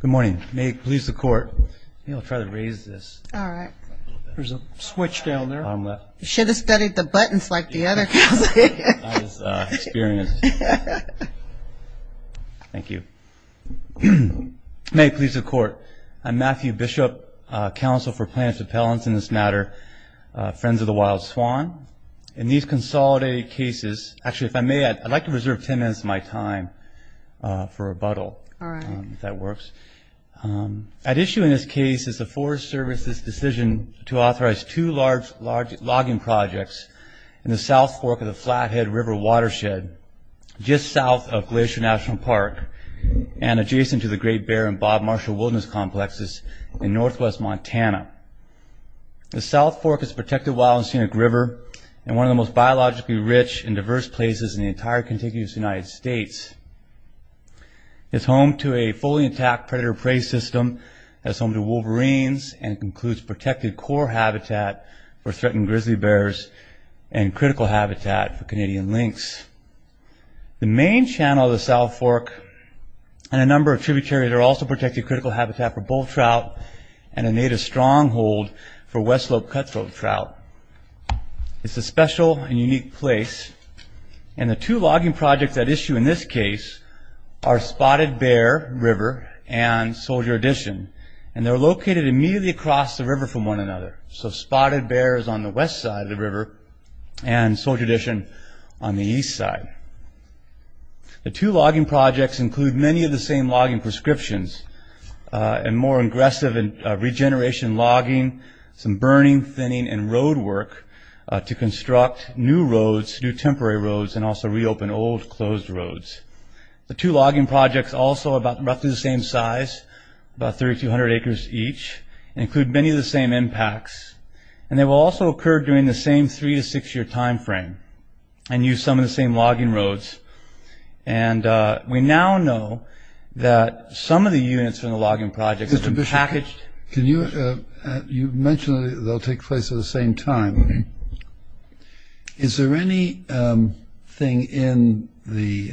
Good morning. May it please the Court. May it please the Court. I'm Matthew Bishop, Counsel for Plaintiff Appellants in this matter, Friends of the Wild Swan. In these consolidated cases, actually if I may, I'd like to reserve 10 minutes of my time for rebuttal, if that works. At issue in this case is the Forest Service's decision to authorize two large logging projects in the South Fork of the Flathead River watershed, just south of Glacier National Park and adjacent to the Great Bear and Bob Marshall Wilderness Complexes in northwest Montana. The South Fork is a protected wild and scenic river and one of the most biologically rich and diverse places in the entire contiguous United States. It's home to a fully intact predator-prey system that's home to wolverines and includes protected core habitat for threatened grizzly bears and critical habitat for Canadian lynx. The main channel of the South Fork and a number of tributaries are also protected critical habitat for bull trout and a native stronghold for West Slope cutthroat trout. It's a special and unique place and the two logging projects at issue in this case are Spotted Bear River and Soldier Edition and they're located immediately across the river from one another. So Spotted Bear is on the west side of the river and Soldier Edition on the east side. The two logging projects include many of the same logging prescriptions and more aggressive regeneration logging, some burning, thinning, and road work to construct new roads, new temporary roads, and also reopen old closed roads. The two logging projects, also about roughly the same size, about 3,200 acres each, include many of the same impacts and they will also occur during the same three to six year time frame and use some of the same logging roads and we now know that some of the units from the logging projects have been packaged. Mr. Bishop, you mentioned they'll take place at the same time. Is there anything in the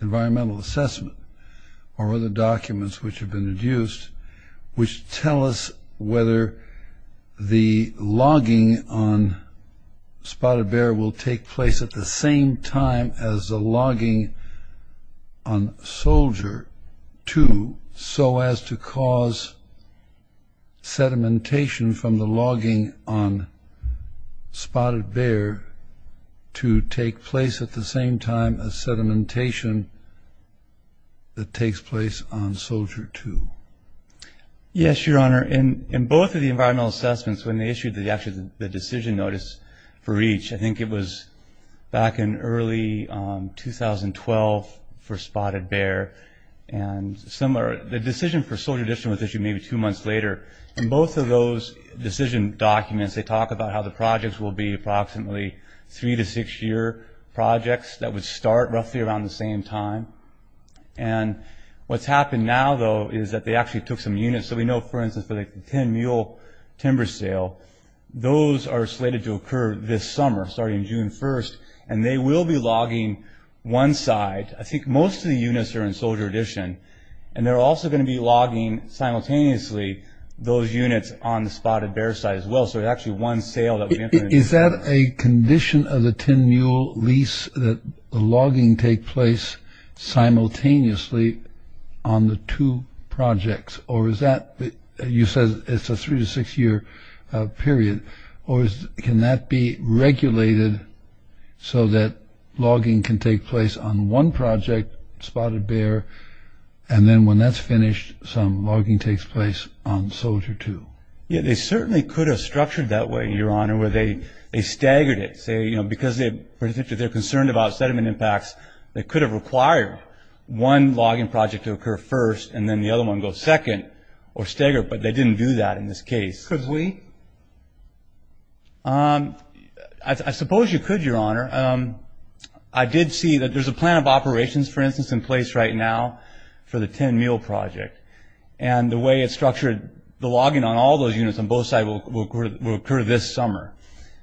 environmental assessment or other documents which have been used which tell us whether the logging on Spotted Bear will take place at the same time as the logging on Soldier 2 so as to cause sedimentation from the logging on Spotted Bear to take place at the same time as sedimentation that takes place on Soldier 2? Yes, Your Honor. In both of the environmental assessments, when they issued the decision notice for each, I think it was back in early 2012 for Spotted Bear and similar. The decision for Soldier Edition was issued maybe two months later. In both of those decision documents they talk about how the projects will be approximately three to six year projects that would start roughly around the same time. What's happened now, though, is that they actually took some units. We know, for instance, for the 10 mule timber sale, those are slated to occur this summer, starting June 1st and they will be logging one side. I think most of the units are in Soldier Edition and they're also going to be logging simultaneously those units on the Spotted Bear side as well. Is that a condition of the 10 mule lease that the logging take place simultaneously on the two projects? Or is that, you said it's a three to six year period, or can that be regulated so that logging can take place on one project, Spotted Bear, and then when that's finished, some logging takes place on Soldier 2? Yeah, they certainly could have structured that way, Your Honor, where they staggered it. Because they're concerned about sediment impacts, they could have required one logging project to occur first and then the other one go second or staggered, but they didn't do that in this case. Could we? I suppose you could, Your Honor. I did see that there's a plan of operations, for instance, in place right now for the 10 mule project. And the way it's structured, the logging on all those units on both sides will occur this summer.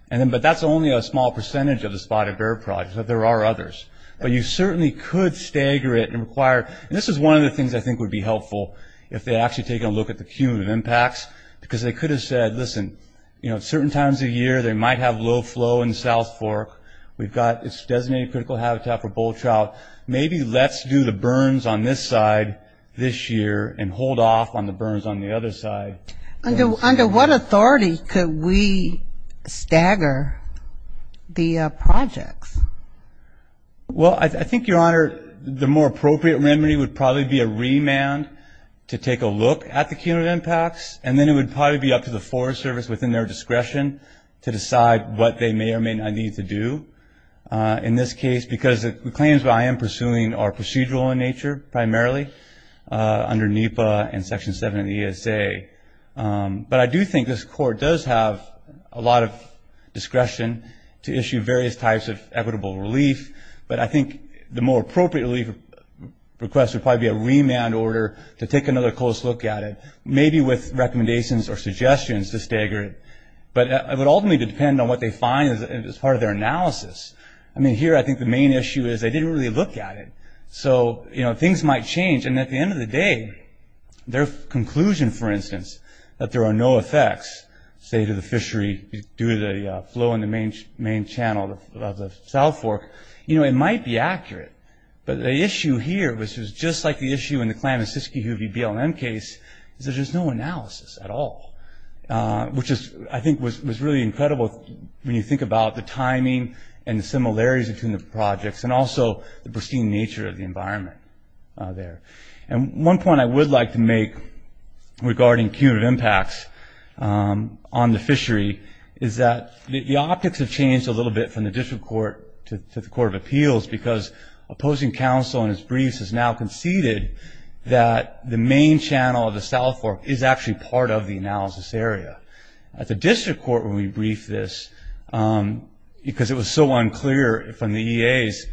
But that's only a small percentage of the Spotted Bear project. There are others. But you certainly could stagger it and require, and this is one of the things I think would be helpful if they actually take a look at the cumulative impacts, because they could have said, listen, certain times of year they might have low flow in South Fork. We've got this designated critical habitat for bull trout. Maybe let's do the burns on this side this year and hold off on the burns on the other side. Under what authority could we stagger the projects? Well, I think, Your Honor, the more appropriate remedy would probably be a remand to take a look at the cumulative impacts, and then it would probably be up to the Forest Service within their discretion to decide what they may or may not need to do in this case, because the claims that I am pursuing are procedural in nature, primarily, under NEPA and Section 7 of the ESA. But I do think this Court does have a lot of discretion to issue various types of equitable relief. But I think the more appropriate relief request would probably be a remand order to take another close look at it, maybe with recommendations or suggestions to stagger it. But it would ultimately depend on what they find as part of their analysis. I mean, here I think the main issue is they didn't really look at it. So, you know, things might change. And at the end of the day, their conclusion, for instance, that there are no effects, say, to the fishery, due to the flow in the main channel of the South Fork, you know, it might be accurate. But the issue here, which is just like the issue in the Klamenskiski-Hoovie BLM case, is there's just no analysis at all, which I think was really incredible when you think about the timing and the similarities between the projects and also the pristine nature of the environment there. And one point I would like to make regarding cumulative impacts on the fishery is that the optics have changed a little bit from the District Court to the Court of Appeals because opposing counsel in his briefs has now conceded that the main channel of the South Fork is actually part of the analysis area. At the District Court when we briefed this, because it was so unclear from the EAs,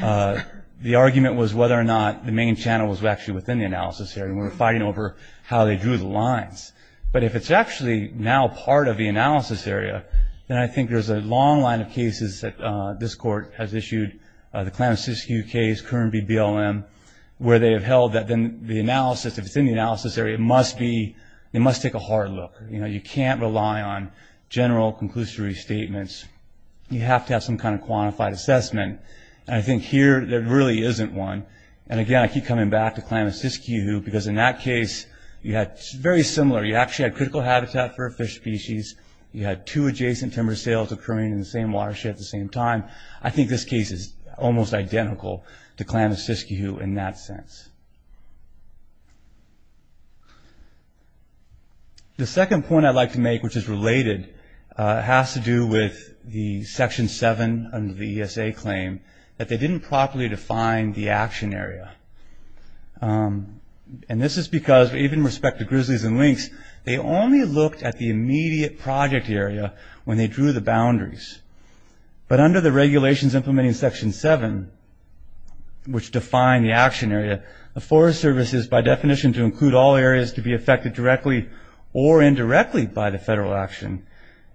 the argument was whether or not the main channel was actually within the analysis area. We were fighting over how they drew the lines. But if it's actually now part of the analysis area, then I think there's a long line of cases that this Court has issued, the Klamenskiski-Hoovie case, current BLM, where they have held that the analysis, if it's in the analysis area, it must take a hard look. You can't rely on general conclusory statements. You have to have some kind of quantified assessment. And I think here there really isn't one. And again, I keep coming back to Klamenskiski-Hoovie because in that case, it's very similar. You actually had critical habitat for a fish species. You had two adjacent timber sales occurring in the same watershed at the same time. I think this case is almost identical to Klamenskiski-Hoo in that sense. The second point I'd like to make, which is related, has to do with the Section 7 under the ESA claim that they didn't properly define the action area. And this is because even with respect to grizzlies and lynx, they only looked at the immediate project area when they drew the boundaries. But under the regulations implementing Section 7, which define the action area, the Forest Service is by definition to include all areas to be affected directly or indirectly by the federal action,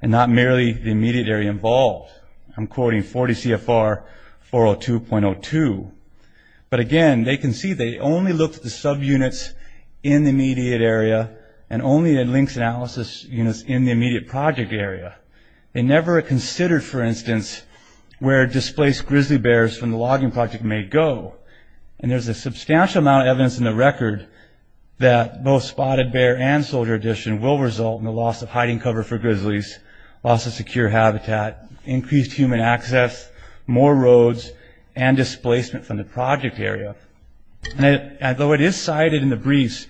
and not merely the immediate area involved. I'm quoting 40 CFR 402.02. But again, they can see they only looked at the subunits in the immediate area and only at lynx analysis units in the immediate project area. They never considered, for instance, where displaced grizzly bears from the logging project may go. And there's a substantial amount of evidence in the record that both spotted bear and soldier addition will result in the loss of hiding cover for grizzlies, loss of secure habitat, increased human access, more roads, and displacement from the project area. And though it is cited in the briefs,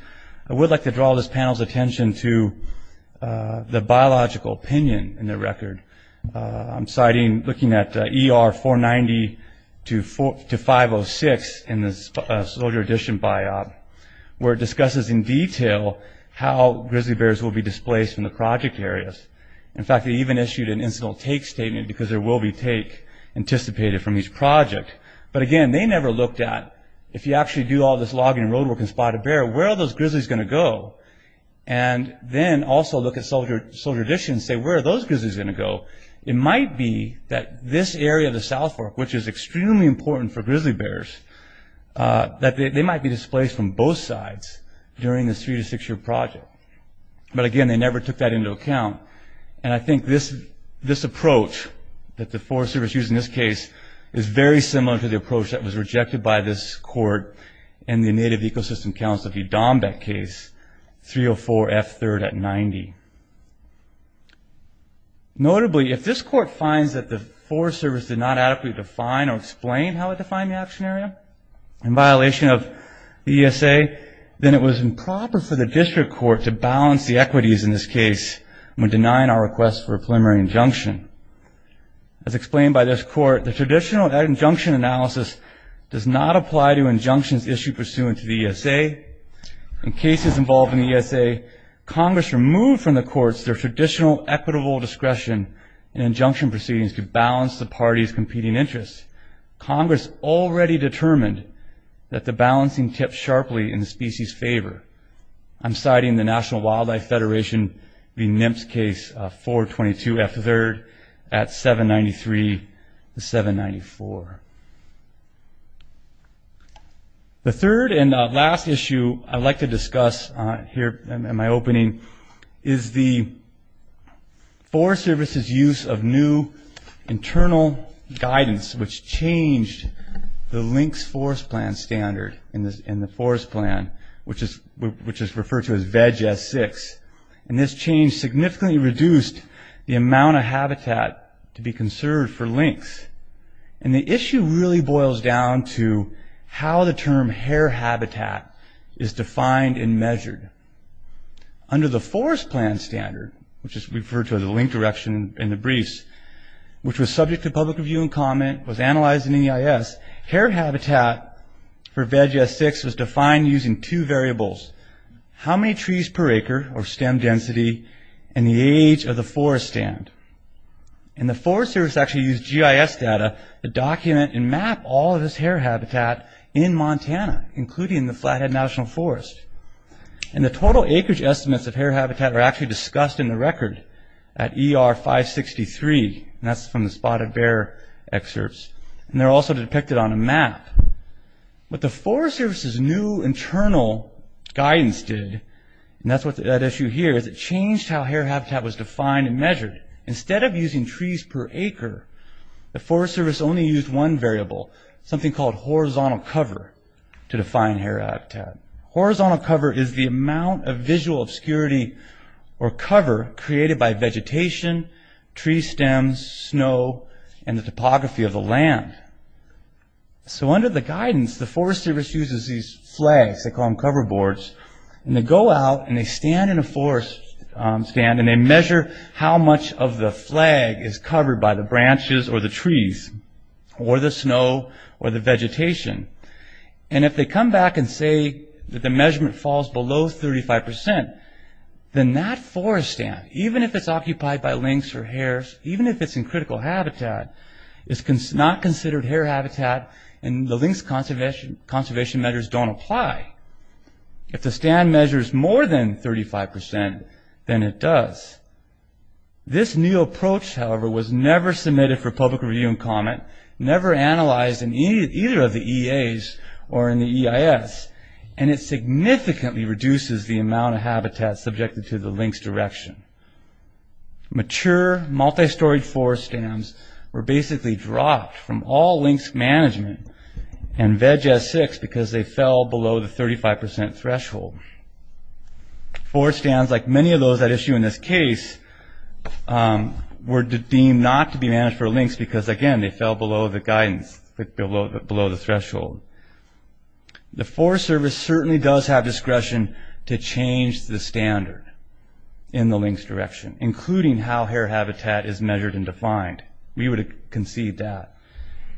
I would like to draw this panel's attention to the biological opinion in the record. I'm citing looking at ER 490 to 506 in the soldier addition biop, where it discusses in detail how grizzly bears will be displaced from the project areas. In fact, they even issued an instant take statement because there will be take anticipated from each project. But again, they never looked at, if you actually do all this logging roadwork and spotted bear, where are those grizzlies going to go? And then also look at soldier addition and say, where are those grizzlies going to go? It might be that this area of the South Fork, which is extremely important for grizzly bears, that they might be displaced from both sides during this three to six year project. But again, they never took that into account. And I think this approach that the Forest Service used in this case is very similar to the approach that was rejected by this court in the Native Ecosystem Council of Udombek case, 304F3rd at 90. Notably, if this court finds that the Forest Service did not adequately define or explain how it defined the action area in violation of the ESA, then it was improper for the district court to balance the equities in this case when denying our request for a preliminary injunction. As explained by this court, the traditional injunction analysis does not apply to injunctions issued pursuant to the ESA. In cases involved in the ESA, Congress removed from the courts their traditional equitable discretion in injunction proceedings to balance the parties' competing interests. I'm citing the National Wildlife Federation v. NIMPS case 422F3rd at 793-794. The third and last issue I'd like to discuss here in my opening is the Forest Service's use of new internal guidance which changed the LINCS forest plan standard in the forest plan, which is referred to as VEG S6. And this change significantly reduced the amount of habitat to be conserved for LINCS. And the issue really boils down to how the term hair habitat is defined and measured. Under the forest plan standard, which is referred to as a LINCS direction in the briefs, which was subject to public review and comment, was analyzed in EIS, hair habitat for VEG S6 was defined using two variables, how many trees per acre, or stem density, and the age of the forest stand. And the Forest Service actually used GIS data to document and map all of this hair habitat in Montana, including the Flathead National Forest. And the total acreage estimates of hair habitat are actually discussed in the record at ER 563, and that's from the spotted bear excerpts. And they're also depicted on a map. What the Forest Service's new internal guidance did, and that's what that issue here, is it changed how hair habitat was defined and measured. Instead of using trees per acre, the Forest Service only used one variable, something called horizontal cover to define hair habitat. Horizontal cover is the amount of visual obscurity or cover created by vegetation, tree stems, snow, and the topography of the land. So under the guidance, the Forest Service uses these flags, they call them cover boards, and they go out and they stand in a forest stand, and they measure how much of the flag is covered by the branches or the trees, or the snow, or the vegetation. And if they come back and say that the measurement falls below 35%, then that forest stand, even if it's occupied by lynx or hares, even if it's in critical habitat, is not considered hair habitat, and the lynx conservation measures don't apply. If the stand measures more than 35%, then it does. This new approach, however, was never submitted for public review and comment, never analyzed in either of the EAs or in the EIS, and it significantly reduces the amount of habitat subjected to the lynx direction. Mature, multi-storied forest stands were basically dropped from all lynx management and VEG S6 because they fell below the 35% threshold. Forest stands, like many of those at issue in this case, were deemed not to be managed for lynx because, again, they fell below the guidance, below the threshold. The Forest Service certainly does have discretion to change the standard in the lynx direction, including how hare habitat is measured and defined. We would have conceived that.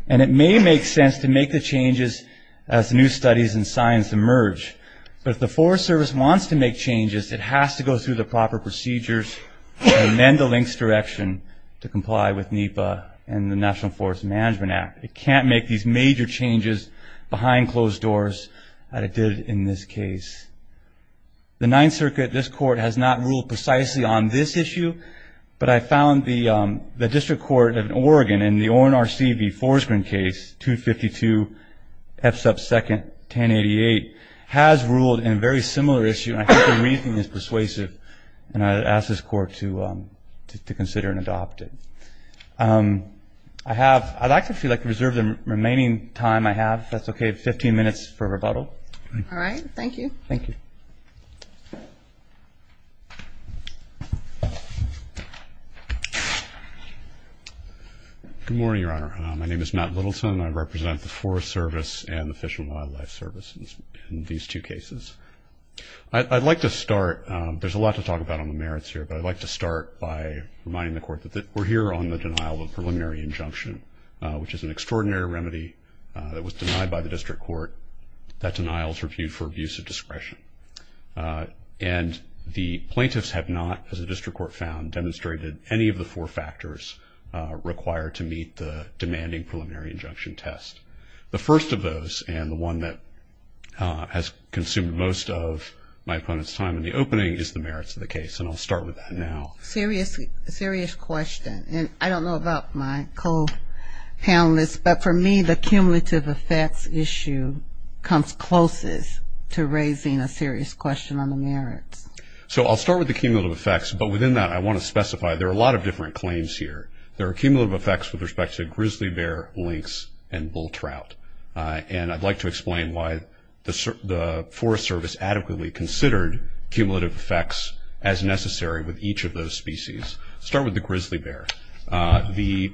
And it may make sense to make the changes as new studies and science emerge, but if the Forest Service wants to make changes, it has to go through the proper procedures and amend the lynx direction to comply with NEPA and the National Forest Management Act. It can't make these major changes behind closed doors that it did in this case. The Ninth Circuit, this Court, has not ruled precisely on this issue, but I found the District Court of Oregon in the ORNRC v. Forsgren case, 252 F sub 2nd, 1088, has ruled in a very similar issue, and I think the reasoning is persuasive, and I ask this Court to consider and adopt it. I'd like to reserve the remaining time I have, if that's okay, 15 minutes for rebuttal. All right. Thank you. Thank you. Good morning, Your Honor. My name is Matt Littleton, and I represent the Forest Service and the Fish and Wildlife Service in these two cases. I'd like to start. There's a lot to talk about on the merits here, but I'd like to start by reminding the Court that we're here on the denial of a preliminary injunction, which is an extraordinary remedy that was denied by the District Court. That denial is reviewed for abuse of discretion, and the plaintiffs have not, as the District Court found, demonstrated any of the four factors required to meet the demanding preliminary injunction test. The first of those, and the one that has consumed most of my opponent's time in the opening, is the merits of the case, and I'll start with that now. Serious question. And I don't know about my co-panelists, but for me the cumulative effects issue comes closest to raising a serious question on the merits. So I'll start with the cumulative effects, but within that I want to specify there are a lot of different claims here. There are cumulative effects with respect to grizzly bear, lynx, and bull trout, and I'd like to explain why the Forest Service adequately considered cumulative effects as necessary with each of those species. I'll start with the grizzly bear. The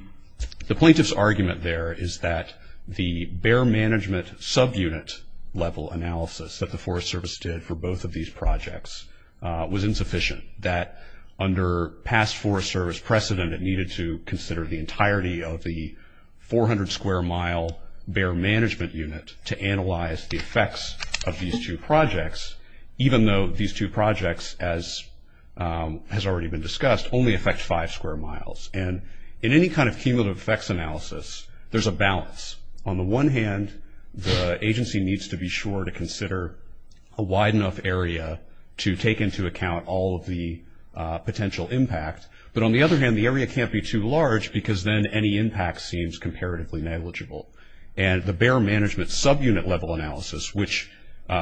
plaintiff's argument there is that the bear management subunit level analysis that the Forest Service did for both of these projects was insufficient, that under past Forest Service precedent it needed to consider the entirety of the 400-square-mile bear management unit to analyze the effects of these two projects, even though these two projects, as has already been discussed, only affect five square miles. And in any kind of cumulative effects analysis, there's a balance. On the one hand, the agency needs to be sure to consider a wide enough area to take into account all of the potential impact. But on the other hand, the area can't be too large because then any impact seems comparatively negligible. And the bear management subunit level analysis, which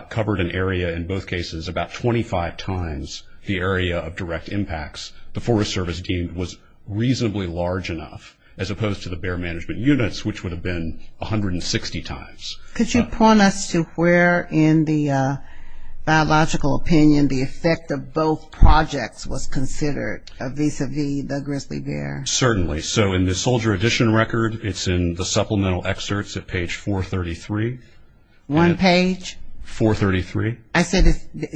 covered an area in both cases about 25 times the area of direct impacts, the Forest Service deemed was reasonably large enough as opposed to the bear management units, which would have been 160 times. Could you point us to where in the biological opinion the effect of both projects was considered, vis-a-vis the grizzly bear? Certainly. So in the soldier edition record, it's in the supplemental excerpts at page 433. One page? 433. I said,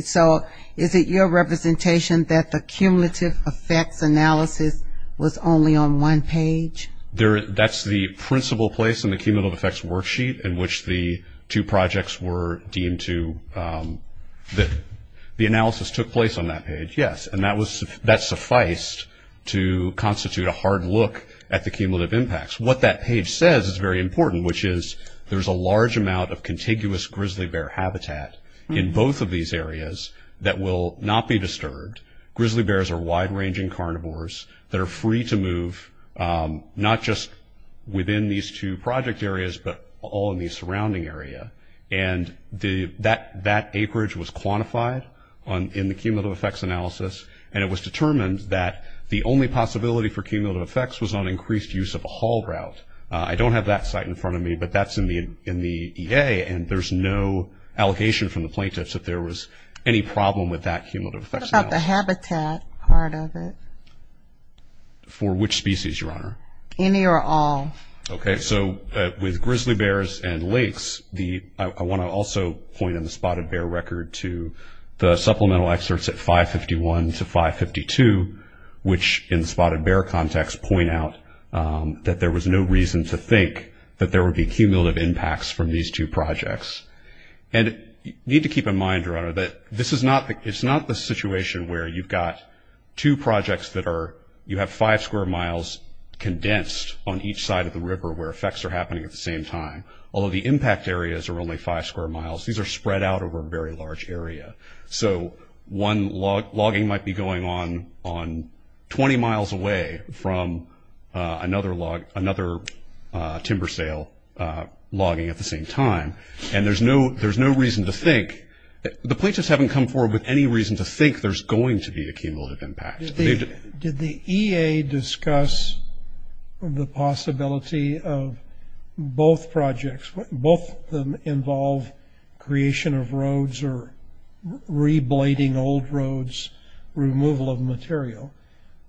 so is it your representation that the cumulative effects analysis was only on one page? That's the principal place in the cumulative effects worksheet in which the two projects were deemed to – the analysis took place on that page, yes. And that sufficed to constitute a hard look at the cumulative impacts. What that page says is very important, which is there's a large amount of contiguous grizzly bear habitat in both of these areas that will not be disturbed. Grizzly bears are wide-ranging carnivores that are free to move not just within these two project areas, but all in the surrounding area. And that acreage was quantified in the cumulative effects analysis, and it was determined that the only possibility for cumulative effects was on increased use of a haul route. I don't have that site in front of me, but that's in the EA, and there's no allegation from the plaintiffs that there was any problem with that cumulative effects analysis. The habitat part of it. For which species, Your Honor? Any or all. Okay. So with grizzly bears and lakes, I want to also point in the spotted bear record to the supplemental excerpts at 551 to 552, which in spotted bear context point out that there was no reason to think that there would be cumulative impacts from these two projects. And you need to keep in mind, Your Honor, that this is not the situation where you've got two projects that are, you have five square miles condensed on each side of the river where effects are happening at the same time, although the impact areas are only five square miles. These are spread out over a very large area. So one logging might be going on 20 miles away from another timber sale logging at the same time, and there's no reason to think, the plaintiffs haven't come forward with any reason to think there's going to be a cumulative impact. Did the EA discuss the possibility of both projects, both of them involve creation of roads or re-blading old roads, removal of material,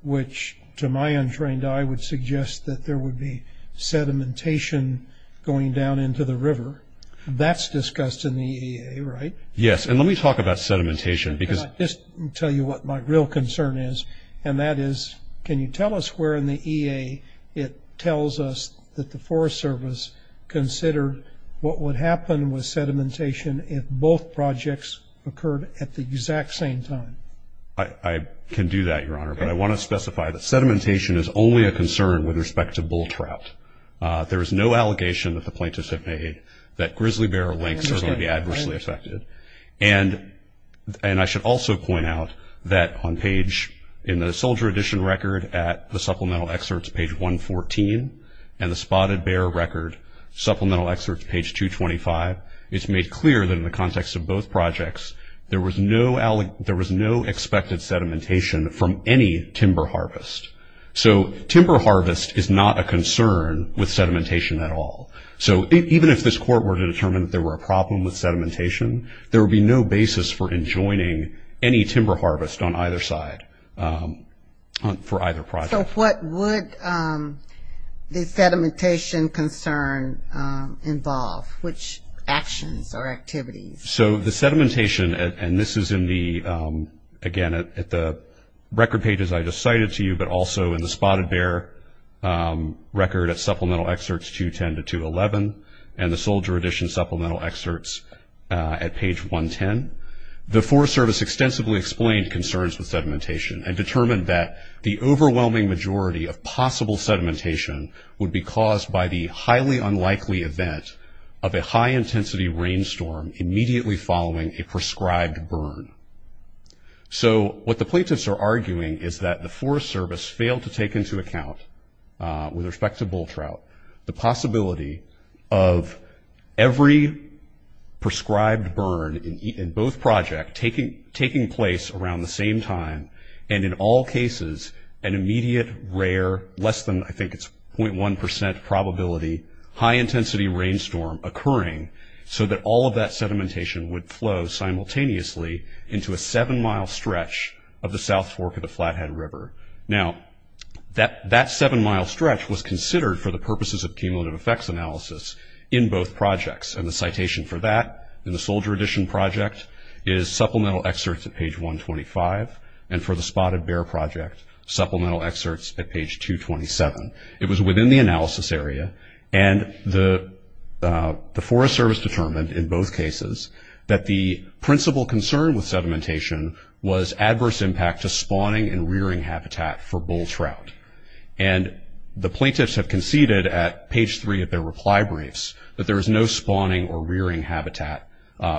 which to my untrained eye would suggest that there would be sedimentation going down into the river. That's discussed in the EA, right? Yes, and let me talk about sedimentation. I'll just tell you what my real concern is, and that is, can you tell us where in the EA it tells us that the Forest Service considered what would happen with sedimentation if both projects occurred at the exact same time? I can do that, Your Honor, but I want to specify that sedimentation is only a concern with respect to bull trout. There is no allegation that the plaintiffs have made that grizzly bear links are going to be adversely affected, and I should also point out that on page, in the Soldier Edition record at the Supplemental Excerpts, page 114, and the Spotted Bear Record Supplemental Excerpts, page 225, it's made clear that in the context of both projects, there was no expected sedimentation from any timber harvest. So timber harvest is not a concern with sedimentation at all. So even if this Court were to determine that there were a problem with sedimentation, there would be no basis for enjoining any timber harvest on either side for either project. So what would the sedimentation concern involve? Which actions or activities? So the sedimentation, and this is in the, again, at the record pages I just cited to you, but also in the Spotted Bear Record at Supplemental Excerpts, 210 to 211, and the Soldier Edition Supplemental Excerpts at page 110, the Forest Service extensively explained concerns with sedimentation and determined that the overwhelming majority of possible sedimentation would be caused by the highly unlikely event of a high-intensity rainstorm immediately following a prescribed burn. So what the plaintiffs are arguing is that the Forest Service failed to take into account, with respect to bull trout, the possibility of every prescribed burn in both projects taking place around the same time, and in all cases, an immediate, rare, less than, I think it's .1% probability, high-intensity rainstorm occurring, so that all of that sedimentation would flow simultaneously into a seven-mile stretch of the South Fork of the Flathead River. Now, that seven-mile stretch was considered for the purposes of cumulative effects analysis in both projects, and the citation for that in the Soldier Edition Project is Supplemental Excerpts at page 125, and for the Spotted Bear Project, Supplemental Excerpts at page 227. It was within the analysis area, and the Forest Service determined in both cases that the principal concern with sedimentation was adverse impact to spawning and rearing habitat for bull trout. And the plaintiffs have conceded at page three of their reply briefs that there is no spawning or rearing habitat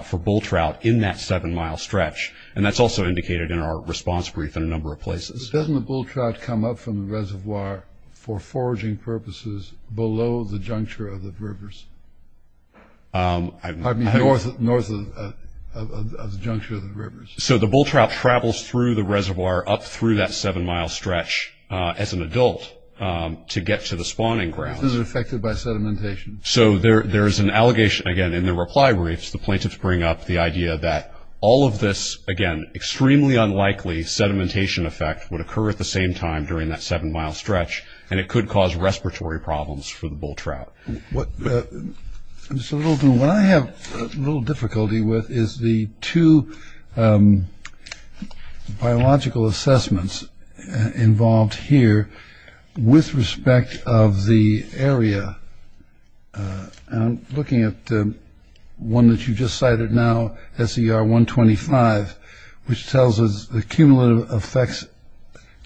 for bull trout in that seven-mile stretch, and that's also indicated in our response brief in a number of places. Doesn't the bull trout come up from the reservoir for foraging purposes below the juncture of the rivers? I mean, north of the juncture of the rivers. So the bull trout travels through the reservoir up through that seven-mile stretch as an adult to get to the spawning grounds. Is it affected by sedimentation? So there is an allegation, again, in the reply briefs. The plaintiffs bring up the idea that all of this, again, extremely unlikely sedimentation effect would occur at the same time during that seven-mile stretch, and it could cause respiratory problems for the bull trout. What I have a little difficulty with is the two biological assessments involved here with respect of the area. I'm looking at one that you just cited now, SER 125, which tells us the cumulative effects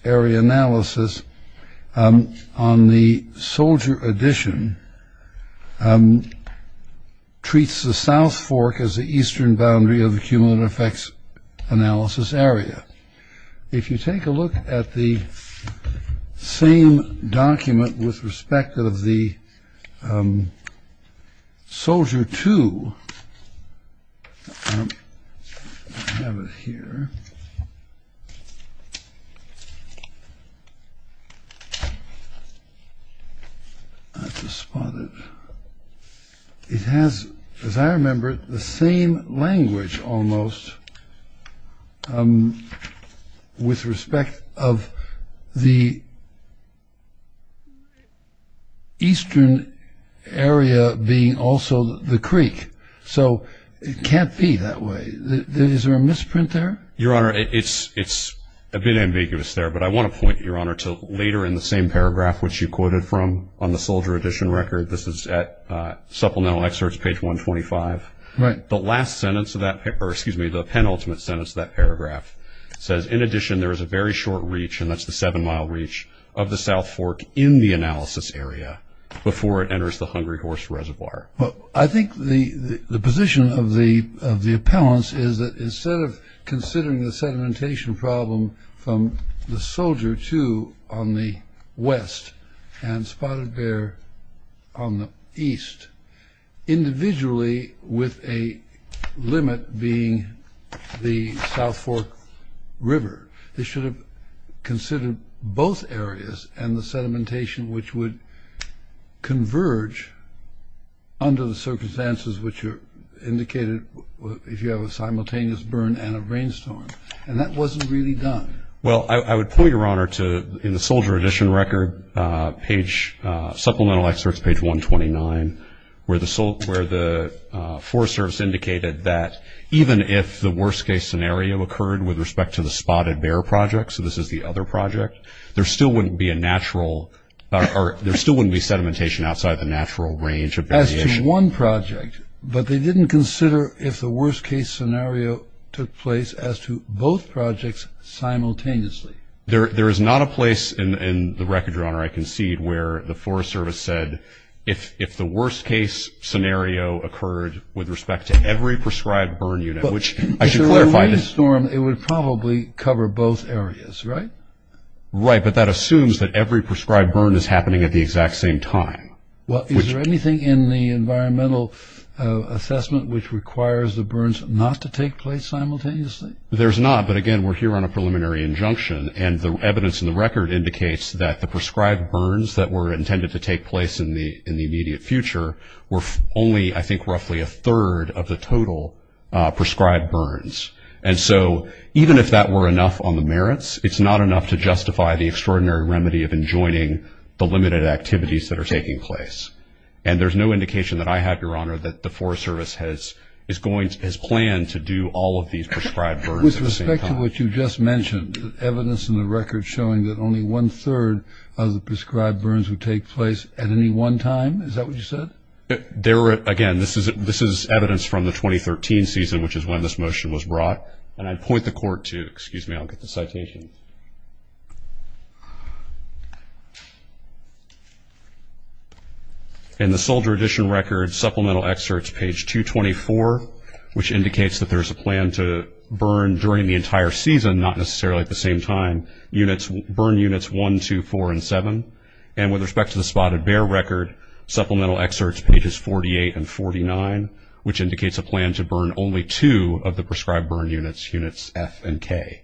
area analysis on the soldier addition treats the south fork as the eastern boundary of the cumulative effects analysis area. If you take a look at the same document with respect of the soldier two, I have it here. I have to spot it. It has, as I remember it, the same language almost with respect of the eastern area being also the creek. So it can't be that way. Is there a misprint there? Your Honor, it's a bit ambiguous there, but I want to point, Your Honor, to later in the same paragraph which you quoted from on the soldier addition record. This is at Supplemental Excerpts, page 125. Right. The last sentence of that, or excuse me, the penultimate sentence of that paragraph says, in addition, there is a very short reach, and that's the seven-mile reach, of the south fork in the analysis area before it enters the Hungry Horse Reservoir. Well, I think the position of the appellants is that instead of considering the sedimentation problem from the soldier two on the west and spotted bear on the east, individually with a limit being the south fork river, they should have considered both areas and the sedimentation, which would converge under the circumstances which are indicated if you have a simultaneous burn and a rainstorm, and that wasn't really done. Well, I would point, Your Honor, to in the soldier addition record page, Supplemental Excerpts, page 129, where the Forest Service indicated that even if the worst-case scenario occurred with respect to the spotted bear project, so this is the other project, there still wouldn't be a natural, or there still wouldn't be sedimentation outside the natural range of variation. As to one project, but they didn't consider if the worst-case scenario took place as to both projects simultaneously. There is not a place in the record, Your Honor, I concede, where the Forest Service said if the worst-case scenario occurred with respect to every prescribed burn unit, which I should clarify that... If there were a rainstorm, it would probably cover both areas, right? Right, but that assumes that every prescribed burn is happening at the exact same time. Well, is there anything in the environmental assessment which requires the burns not to take place simultaneously? There's not, but again, we're here on a preliminary injunction, and the evidence in the record indicates that the prescribed burns that were intended to take place in the immediate future were only, I think, a third of the total prescribed burns. And so even if that were enough on the merits, it's not enough to justify the extraordinary remedy of enjoining the limited activities that are taking place. And there's no indication that I have, Your Honor, that the Forest Service has planned to do all of these prescribed burns at the same time. With respect to what you just mentioned, evidence in the record showing that only one-third of the prescribed burns would take place at any one time, is that what you said? Again, this is evidence from the 2013 season, which is when this motion was brought, and I'd point the Court to it. Excuse me, I'll get the citation. In the Soldier Edition Record Supplemental Excerpts, page 224, which indicates that there's a plan to burn during the entire season, not necessarily at the same time, burn Units 1, 2, 4, and 7. And with respect to the Spotted Bear Record Supplemental Excerpts, pages 48 and 49, which indicates a plan to burn only two of the prescribed burn units, Units F and K.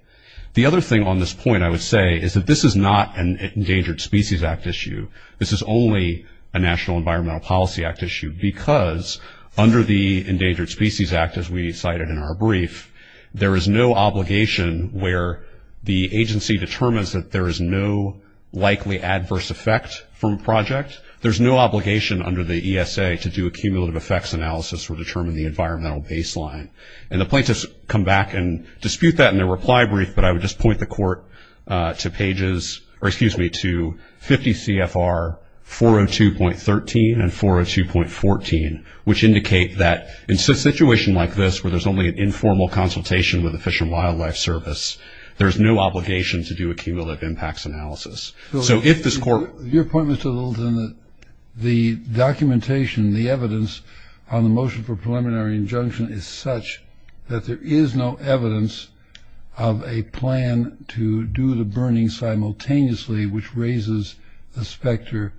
The other thing on this point, I would say, is that this is not an Endangered Species Act issue. This is only a National Environmental Policy Act issue, because under the Endangered Species Act, as we cited in our brief, there is no obligation where the agency determines that there is no likely adverse effect from a project. There's no obligation under the ESA to do a cumulative effects analysis or determine the environmental baseline. And the plaintiffs come back and dispute that in their reply brief, but I would just point the Court to pages, or excuse me, to 50 CFR 402.13 and 402.14, which indicate that in a situation like this, where there's only an informal consultation with the Fish and Wildlife Service, there's no obligation to do a cumulative impacts analysis. So if this Court... Your point, Mr. Littleton, the documentation, the evidence on the motion for preliminary injunction is such that there is no evidence of a plan to do the burning simultaneously, which raises the specter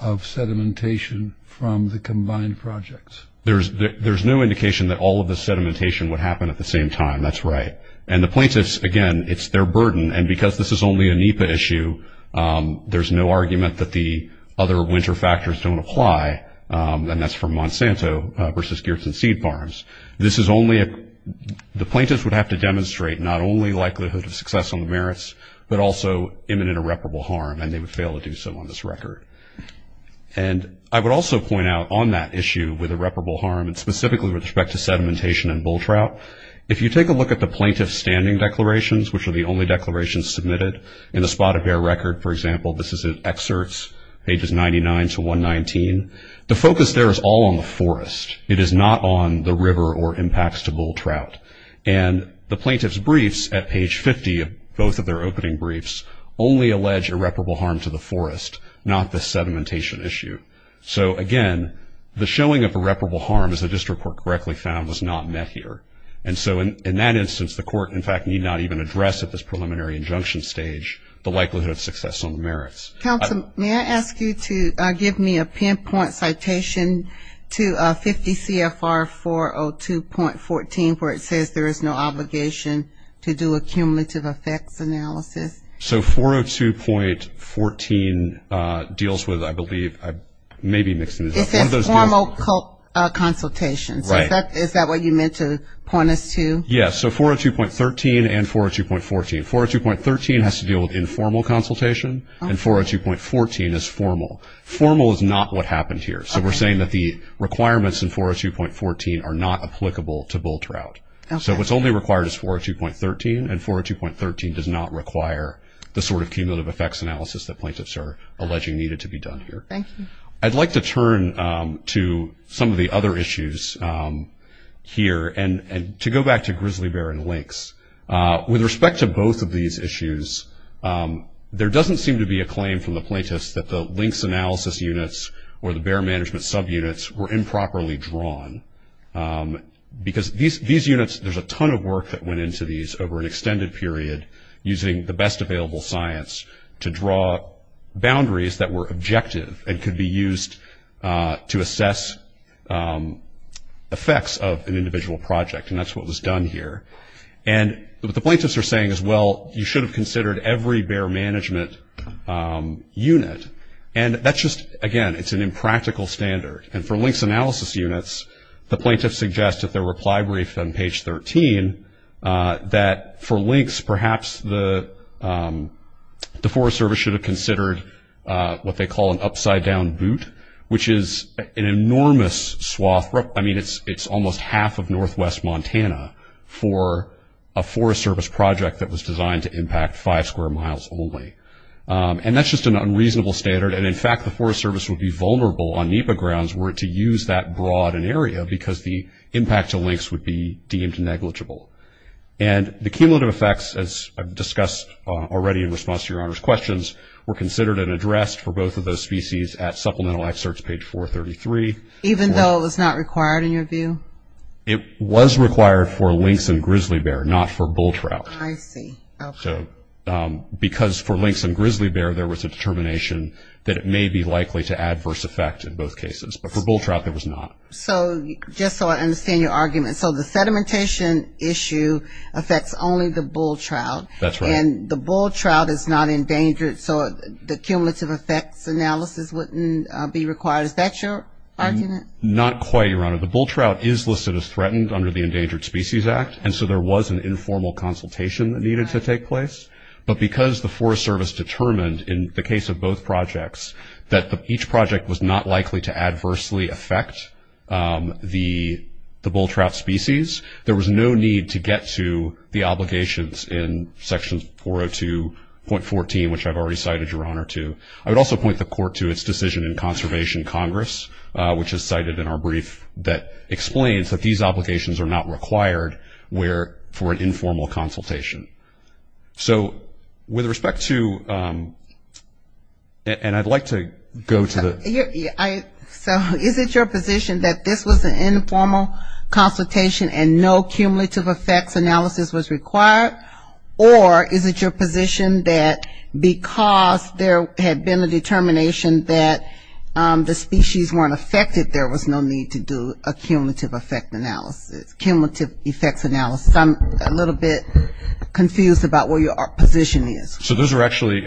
of sedimentation from the combined projects. There's no indication that all of the sedimentation would happen at the same time. That's right. And the plaintiffs, again, it's their burden, and because this is only a NEPA issue, there's no argument that the other winter factors don't apply, and that's from Monsanto versus Geertsen Seed Farms. This is only a... but also imminent irreparable harm, and they would fail to do so on this record. And I would also point out on that issue with irreparable harm, and specifically with respect to sedimentation and bull trout, if you take a look at the plaintiff's standing declarations, which are the only declarations submitted in the spot-of-bear record, for example, this is in excerpts, pages 99 to 119, the focus there is all on the forest. It is not on the river or impacts to bull trout. And the plaintiff's briefs at page 50, both of their opening briefs, only allege irreparable harm to the forest, not the sedimentation issue. So, again, the showing of irreparable harm, as the district court correctly found, was not met here. And so in that instance, the court, in fact, need not even address at this preliminary injunction stage the likelihood of success on the merits. Counsel, may I ask you to give me a pinpoint citation to 50 CFR 402.14, where it says there is no obligation to do a cumulative effects analysis? So 402.14 deals with, I believe, I may be mixing this up. It says formal consultation. Right. So is that what you meant to point us to? Yes, so 402.13 and 402.14. 402.13 has to deal with informal consultation, and 402.14 is formal. Formal is not what happened here. So we're saying that the requirements in 402.14 are not applicable to bull trout. So what's only required is 402.13, and 402.13 does not require the sort of cumulative effects analysis that plaintiffs are alleging needed to be done here. I'd like to turn to some of the other issues here, and to go back to grizzly bear and lynx. With respect to both of these issues, there doesn't seem to be a claim from the plaintiffs that the lynx analysis units or the bear management subunits were improperly drawn, because these units, there's a ton of work that went into these over an extended period, using the best available science to draw boundaries that were objective and could be used to assess effects of an individual project, and that's what was done here. And what the plaintiffs are saying is, well, you should have considered every bear management unit, and that's just, again, it's an impractical standard. And for lynx analysis units, the plaintiffs suggest at their reply brief on page 13 that for lynx, perhaps the Forest Service should have considered what they call an upside-down boot, which is an enormous swath. I mean, it's almost half of northwest Montana for a Forest Service project that was designed to impact five square miles only. And that's just an unreasonable standard, and in fact the Forest Service would be vulnerable on NEPA grounds were it to use that broad an area, because the impact to lynx would be deemed negligible. And the cumulative effects, as I've discussed already in response to Your Honor's questions, were considered and addressed for both of those species at supplemental excerpts, page 433. Even though it was not required in your view? It was required for lynx and grizzly bear, not for bull trout. I see. Because for lynx and grizzly bear there was a determination that it may be likely to adverse effect in both cases, but for bull trout it was not. So just so I understand your argument, so the sedimentation issue affects only the bull trout. That's right. And the bull trout is not endangered, so the cumulative effects analysis wouldn't be required. Is that your argument? Not quite, Your Honor. The bull trout is listed as threatened under the Endangered Species Act, and so there was an informal consultation that needed to take place. But because the Forest Service determined in the case of both projects that each project was not likely to adversely affect the bull trout species, there was no need to get to the obligations in Section 402.14, which I've already cited Your Honor to. I would also point the Court to its decision in Conservation Congress, which is cited in our brief that explains that these obligations are not required for an informal consultation. So with respect to, and I'd like to go to the. So is it your position that this was an informal consultation and no cumulative effects analysis was required? Or is it your position that because there had been a determination that the species weren't affected, there was no need to do a cumulative effect analysis, cumulative effects analysis? I'm a little bit confused about where your position is. So those are actually,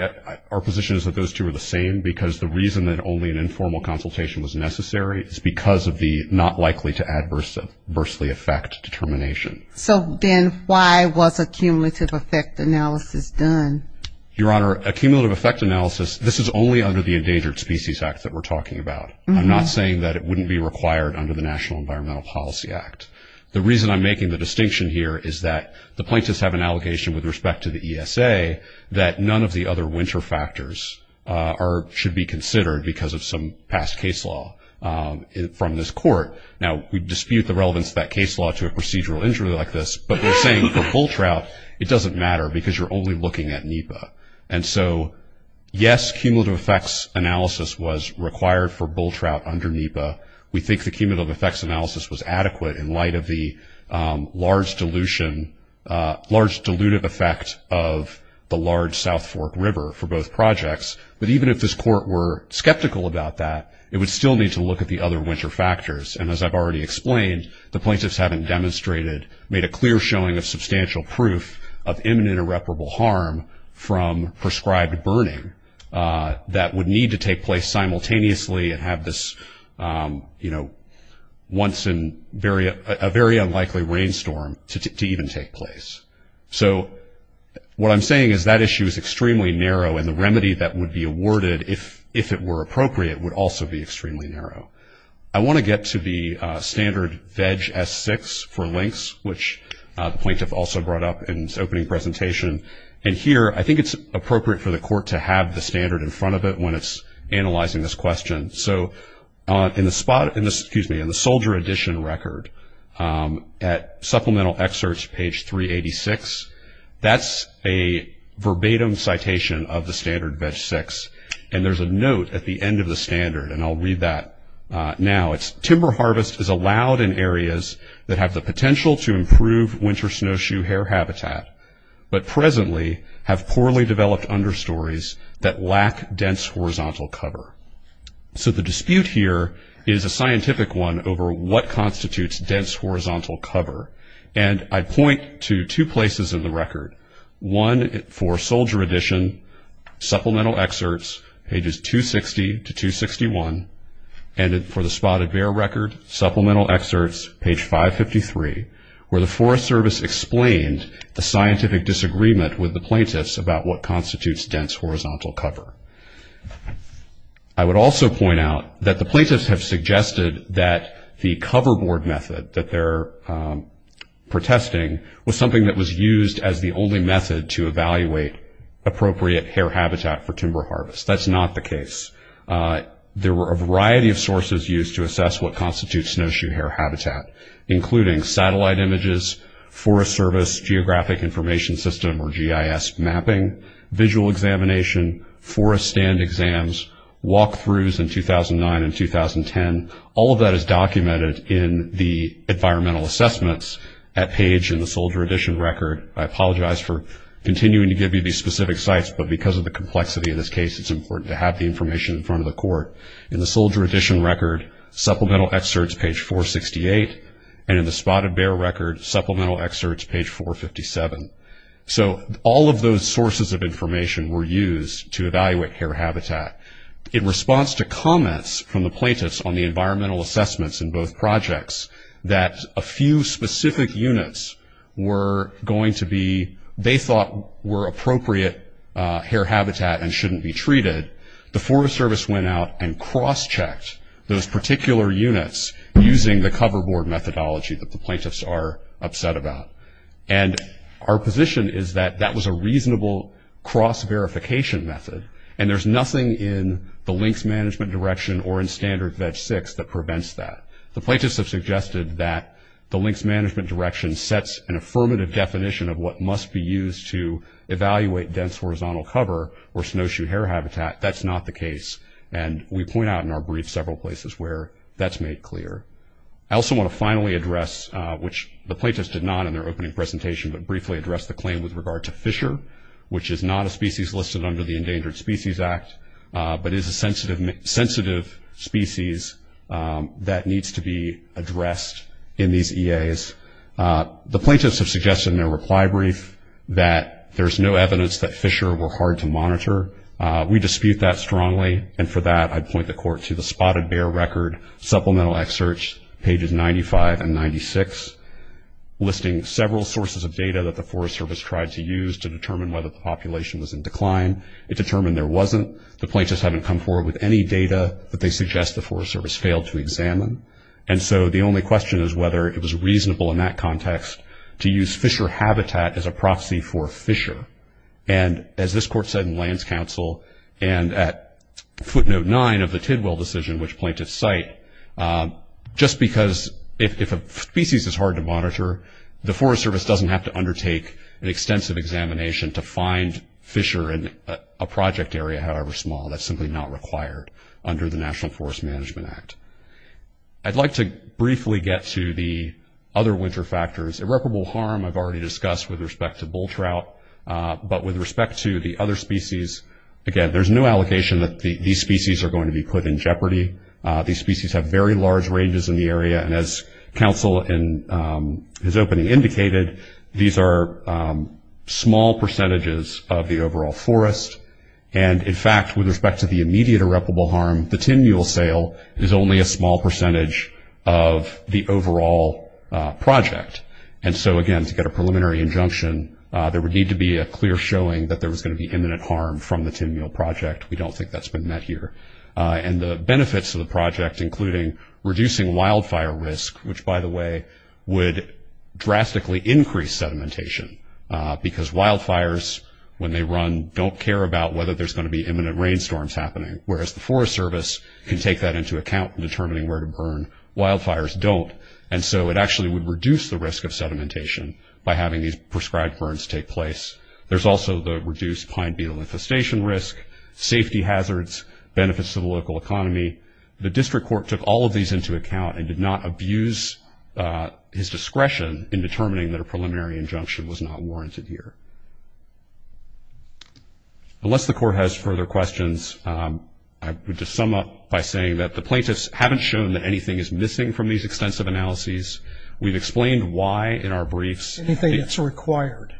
our position is that those two are the same, because the reason that only an informal consultation was necessary is because of the not likely to adversely affect determination. So then why was a cumulative effect analysis done? Your Honor, a cumulative effect analysis, this is only under the Endangered Species Act that we're talking about. I'm not saying that it wouldn't be required under the National Environmental Policy Act. The reason I'm making the distinction here is that the plaintiffs have an allegation with respect to the ESA that none of the other winter factors should be considered because of some past case law from this Court. Now, we dispute the relevance of that case law to a procedural injury like this, but we're saying for bull trout, it doesn't matter because you're only looking at NEPA. And so, yes, cumulative effects analysis was required for bull trout under NEPA. We think the cumulative effects analysis was adequate in light of the large dilution, large dilutive effect of the large South Fork River for both projects. But even if this Court were skeptical about that, it would still need to look at the other winter factors. And as I've already explained, the plaintiffs haven't demonstrated, made a clear showing of substantial proof of imminent irreparable harm from prescribed burning that would need to take place simultaneously and have this, you know, once in a very unlikely rainstorm to even take place. So what I'm saying is that issue is extremely narrow, and the remedy that would be awarded if it were appropriate would also be extremely narrow. I want to get to the standard VEG S6 for links, which the plaintiff also brought up in his opening presentation. And here, I think it's appropriate for the Court to have the standard in front of it when it's analyzing this question. So in the soldier edition record at supplemental excerpts, page 386, that's a verbatim citation of the standard VEG S6. And there's a note at the end of the standard, and I'll read that now. It's, timber harvest is allowed in areas that have the potential to improve winter snowshoe hare habitat, but presently have poorly developed understories that lack dense horizontal cover. So the dispute here is a scientific one over what constitutes dense horizontal cover. And I point to two places in the record, one for soldier edition, supplemental excerpts, pages 260 to 261, and for the spotted bear record, supplemental excerpts, page 553, where the Forest Service explained the scientific disagreement with the plaintiffs about what constitutes dense horizontal cover. I would also point out that the plaintiffs have suggested that the cover board method that they're protesting was something that was used as the only method to evaluate appropriate hare habitat for timber harvest. That's not the case. There were a variety of sources used to assess what constitutes snowshoe hare habitat, including satellite images, Forest Service Geographic Information System, or GIS mapping, visual examination, forest stand exams, walkthroughs in 2009 and 2010. All of that is documented in the environmental assessments at page in the soldier edition record. I apologize for continuing to give you these specific sites, but because of the complexity of this case, it's important to have the information in front of the court. In the soldier edition record, supplemental excerpts, page 468, and in the spotted bear record, supplemental excerpts, page 457. All of those sources of information were used to evaluate hare habitat. In response to comments from the plaintiffs on the environmental assessments in both projects, that a few specific units were going to be, they thought were appropriate hare habitat and shouldn't be treated, the Forest Service went out and cross-checked those particular units using the cover board methodology that the plaintiffs are upset about. And our position is that that was a reasonable cross-verification method, and there's nothing in the links management direction or in standard VEG-6 that prevents that. The plaintiffs have suggested that the links management direction sets an affirmative definition of what must be used to evaluate dense horizontal cover or snowshoe hare habitat. That's not the case, and we point out in our brief several places where that's made clear. I also want to finally address, which the plaintiffs did not in their opening presentation, but briefly address the claim with regard to fisher, which is not a species listed under the Endangered Species Act, but is a sensitive species that needs to be addressed in these EAs. The plaintiffs have suggested in their reply brief that there's no evidence that fisher were hard to monitor. We dispute that strongly, and for that I'd point the court to the spotted bear record, supplemental excerpts, pages 95 and 96, listing several sources of data that the Forest Service tried to use to determine whether the population was in decline. It determined there wasn't. The plaintiffs haven't come forward with any data that they suggest the Forest Service failed to examine. And so the only question is whether it was reasonable in that context to use fisher habitat as a proxy for fisher. And as this court said in lands council, and at footnote 9 of the Tidwell decision, which plaintiffs cite, just because if a species is hard to monitor, the Forest Service doesn't have to undertake an extensive examination to find fisher in a project area, however small, that's simply not required under the National Forest Management Act. I'd like to briefly get to the other winter factors. Irreparable harm I've already discussed with respect to bull trout, but with respect to the other species, again, there's no allocation that these species are going to be put in jeopardy. These species have very large ranges in the area, and as counsel in his opening indicated, these are small percentages of the overall forest. And, in fact, with respect to the immediate irreparable harm, the tin mule sale is only a small percentage of the overall project. And so, again, to get a preliminary injunction, there would need to be a clear showing that there was going to be imminent harm from the tin mule project. We don't think that's been met here. And the benefits of the project, including reducing wildfire risk, which, by the way, would drastically increase sedimentation, because wildfires, when they run, don't care about whether there's going to be imminent rainstorms happening, whereas the Forest Service can take that into account in determining where to burn. Wildfires don't, and so it actually would reduce the risk of sedimentation by having these prescribed burns take place. There's also the reduced pine beetle infestation risk, safety hazards, benefits to the local economy. The District Court took all of these into account and did not abuse his discretion in determining that a preliminary injunction was not warranted here. Unless the Court has further questions, I would just sum up by saying that the plaintiffs haven't shown that anything is missing from these extensive analyses. We've explained why in our briefs. Anything that's required.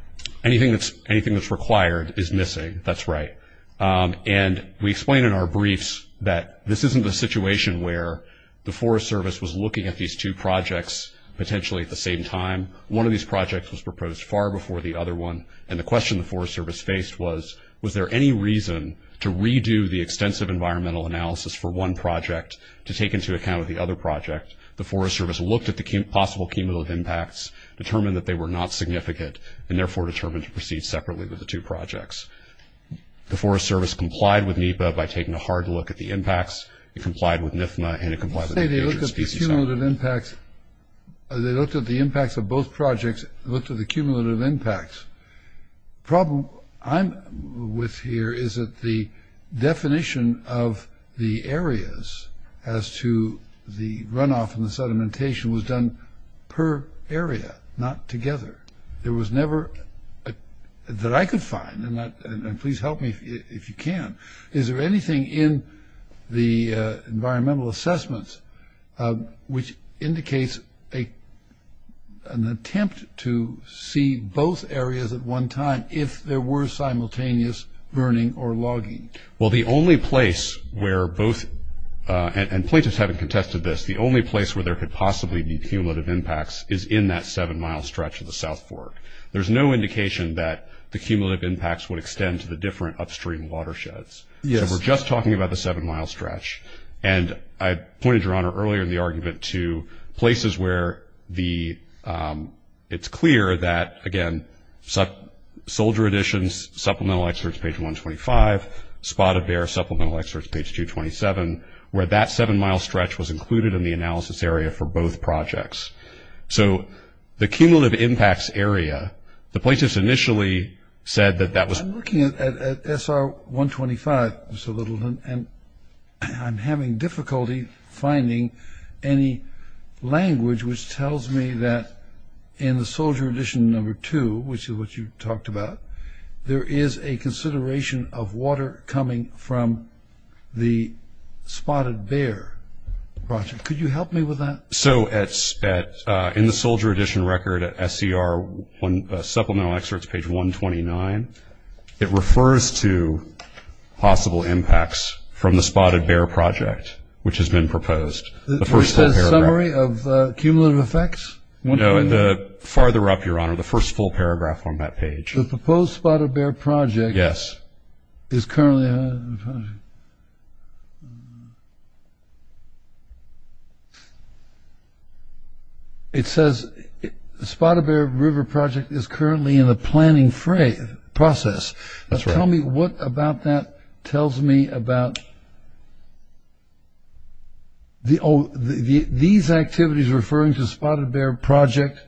Anything that's required is missing. That's right. And we explain in our briefs that this isn't a situation where the Forest Service was looking at these two projects potentially at the same time. One of these projects was proposed far before the other one, and the question the Forest Service faced was, was there any reason to redo the extensive environmental analysis for one project to take into account the other project? The Forest Service looked at the possible cumulative impacts, determined that they were not significant, and therefore determined to proceed separately with the two projects. The Forest Service complied with NEPA by taking a hard look at the impacts. It complied with NIFMA, and it complied with the Endangered Species Act. You say they looked at the cumulative impacts. They looked at the impacts of both projects. They looked at the cumulative impacts. The problem I'm with here is that the definition of the areas as to the runoff and the sedimentation was done per area, not together. There was never that I could find, and please help me if you can, is there anything in the environmental assessments which indicates an attempt to see both areas at one time if there were simultaneous burning or logging? Well, the only place where both, and plaintiffs haven't contested this, the only place where there could possibly be cumulative impacts is in that seven-mile stretch of the South Fork. There's no indication that the cumulative impacts would extend to the different upstream watersheds. So we're just talking about the seven-mile stretch, and I pointed, Your Honor, earlier in the argument to places where it's clear that, again, soldier additions, supplemental excerpts, page 125, spotted bear, supplemental excerpts, page 227, where that seven-mile stretch was included in the analysis area for both projects. So the cumulative impacts area, the plaintiffs initially said that that was... I'm looking at SR 125 just a little, and I'm having difficulty finding any language which tells me that in the soldier addition number two, which is what you talked about, there is a consideration of water coming from the spotted bear project. Could you help me with that? So in the soldier addition record at SCR supplemental excerpts, page 129, it refers to possible impacts from the spotted bear project, which has been proposed. The first full paragraph. The summary of cumulative effects? No, the farther up, Your Honor, the first full paragraph on that page. The proposed spotted bear project... Yes. ...is currently... It says spotted bear river project is currently in the planning process. That's right. Tell me what about that tells me about... These activities referring to spotted bear project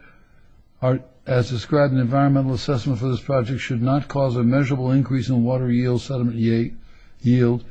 as described in the environmental assessment for this project should not cause a measurable increase in water yield, sediment yield,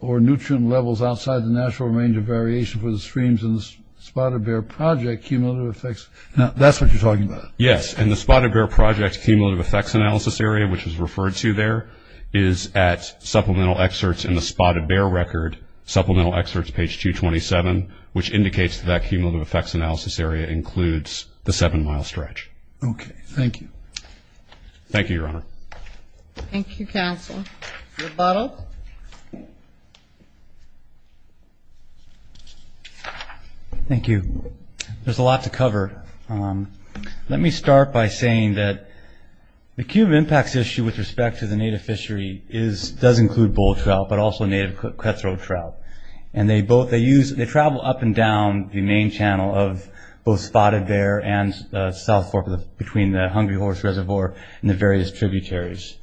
or nutrient levels outside the natural range of variation for the streams in the spotted bear project cumulative effects. Now, that's what you're talking about. Yes, and the spotted bear project cumulative effects analysis area, which is referred to there, is at supplemental excerpts in the spotted bear record, supplemental excerpts, page 227, which indicates that that cumulative effects analysis area includes the seven-mile stretch. Okay. Thank you. Thank you, Your Honor. Thank you, counsel. Thank you. There's a lot to cover. Let me start by saying that the cumulative impacts issue with respect to the native fishery does include bull trout, but also native cutthroat trout. And they travel up and down the main channel of both spotted bear and south fork between the Hungry Horse Reservoir and the various tributaries.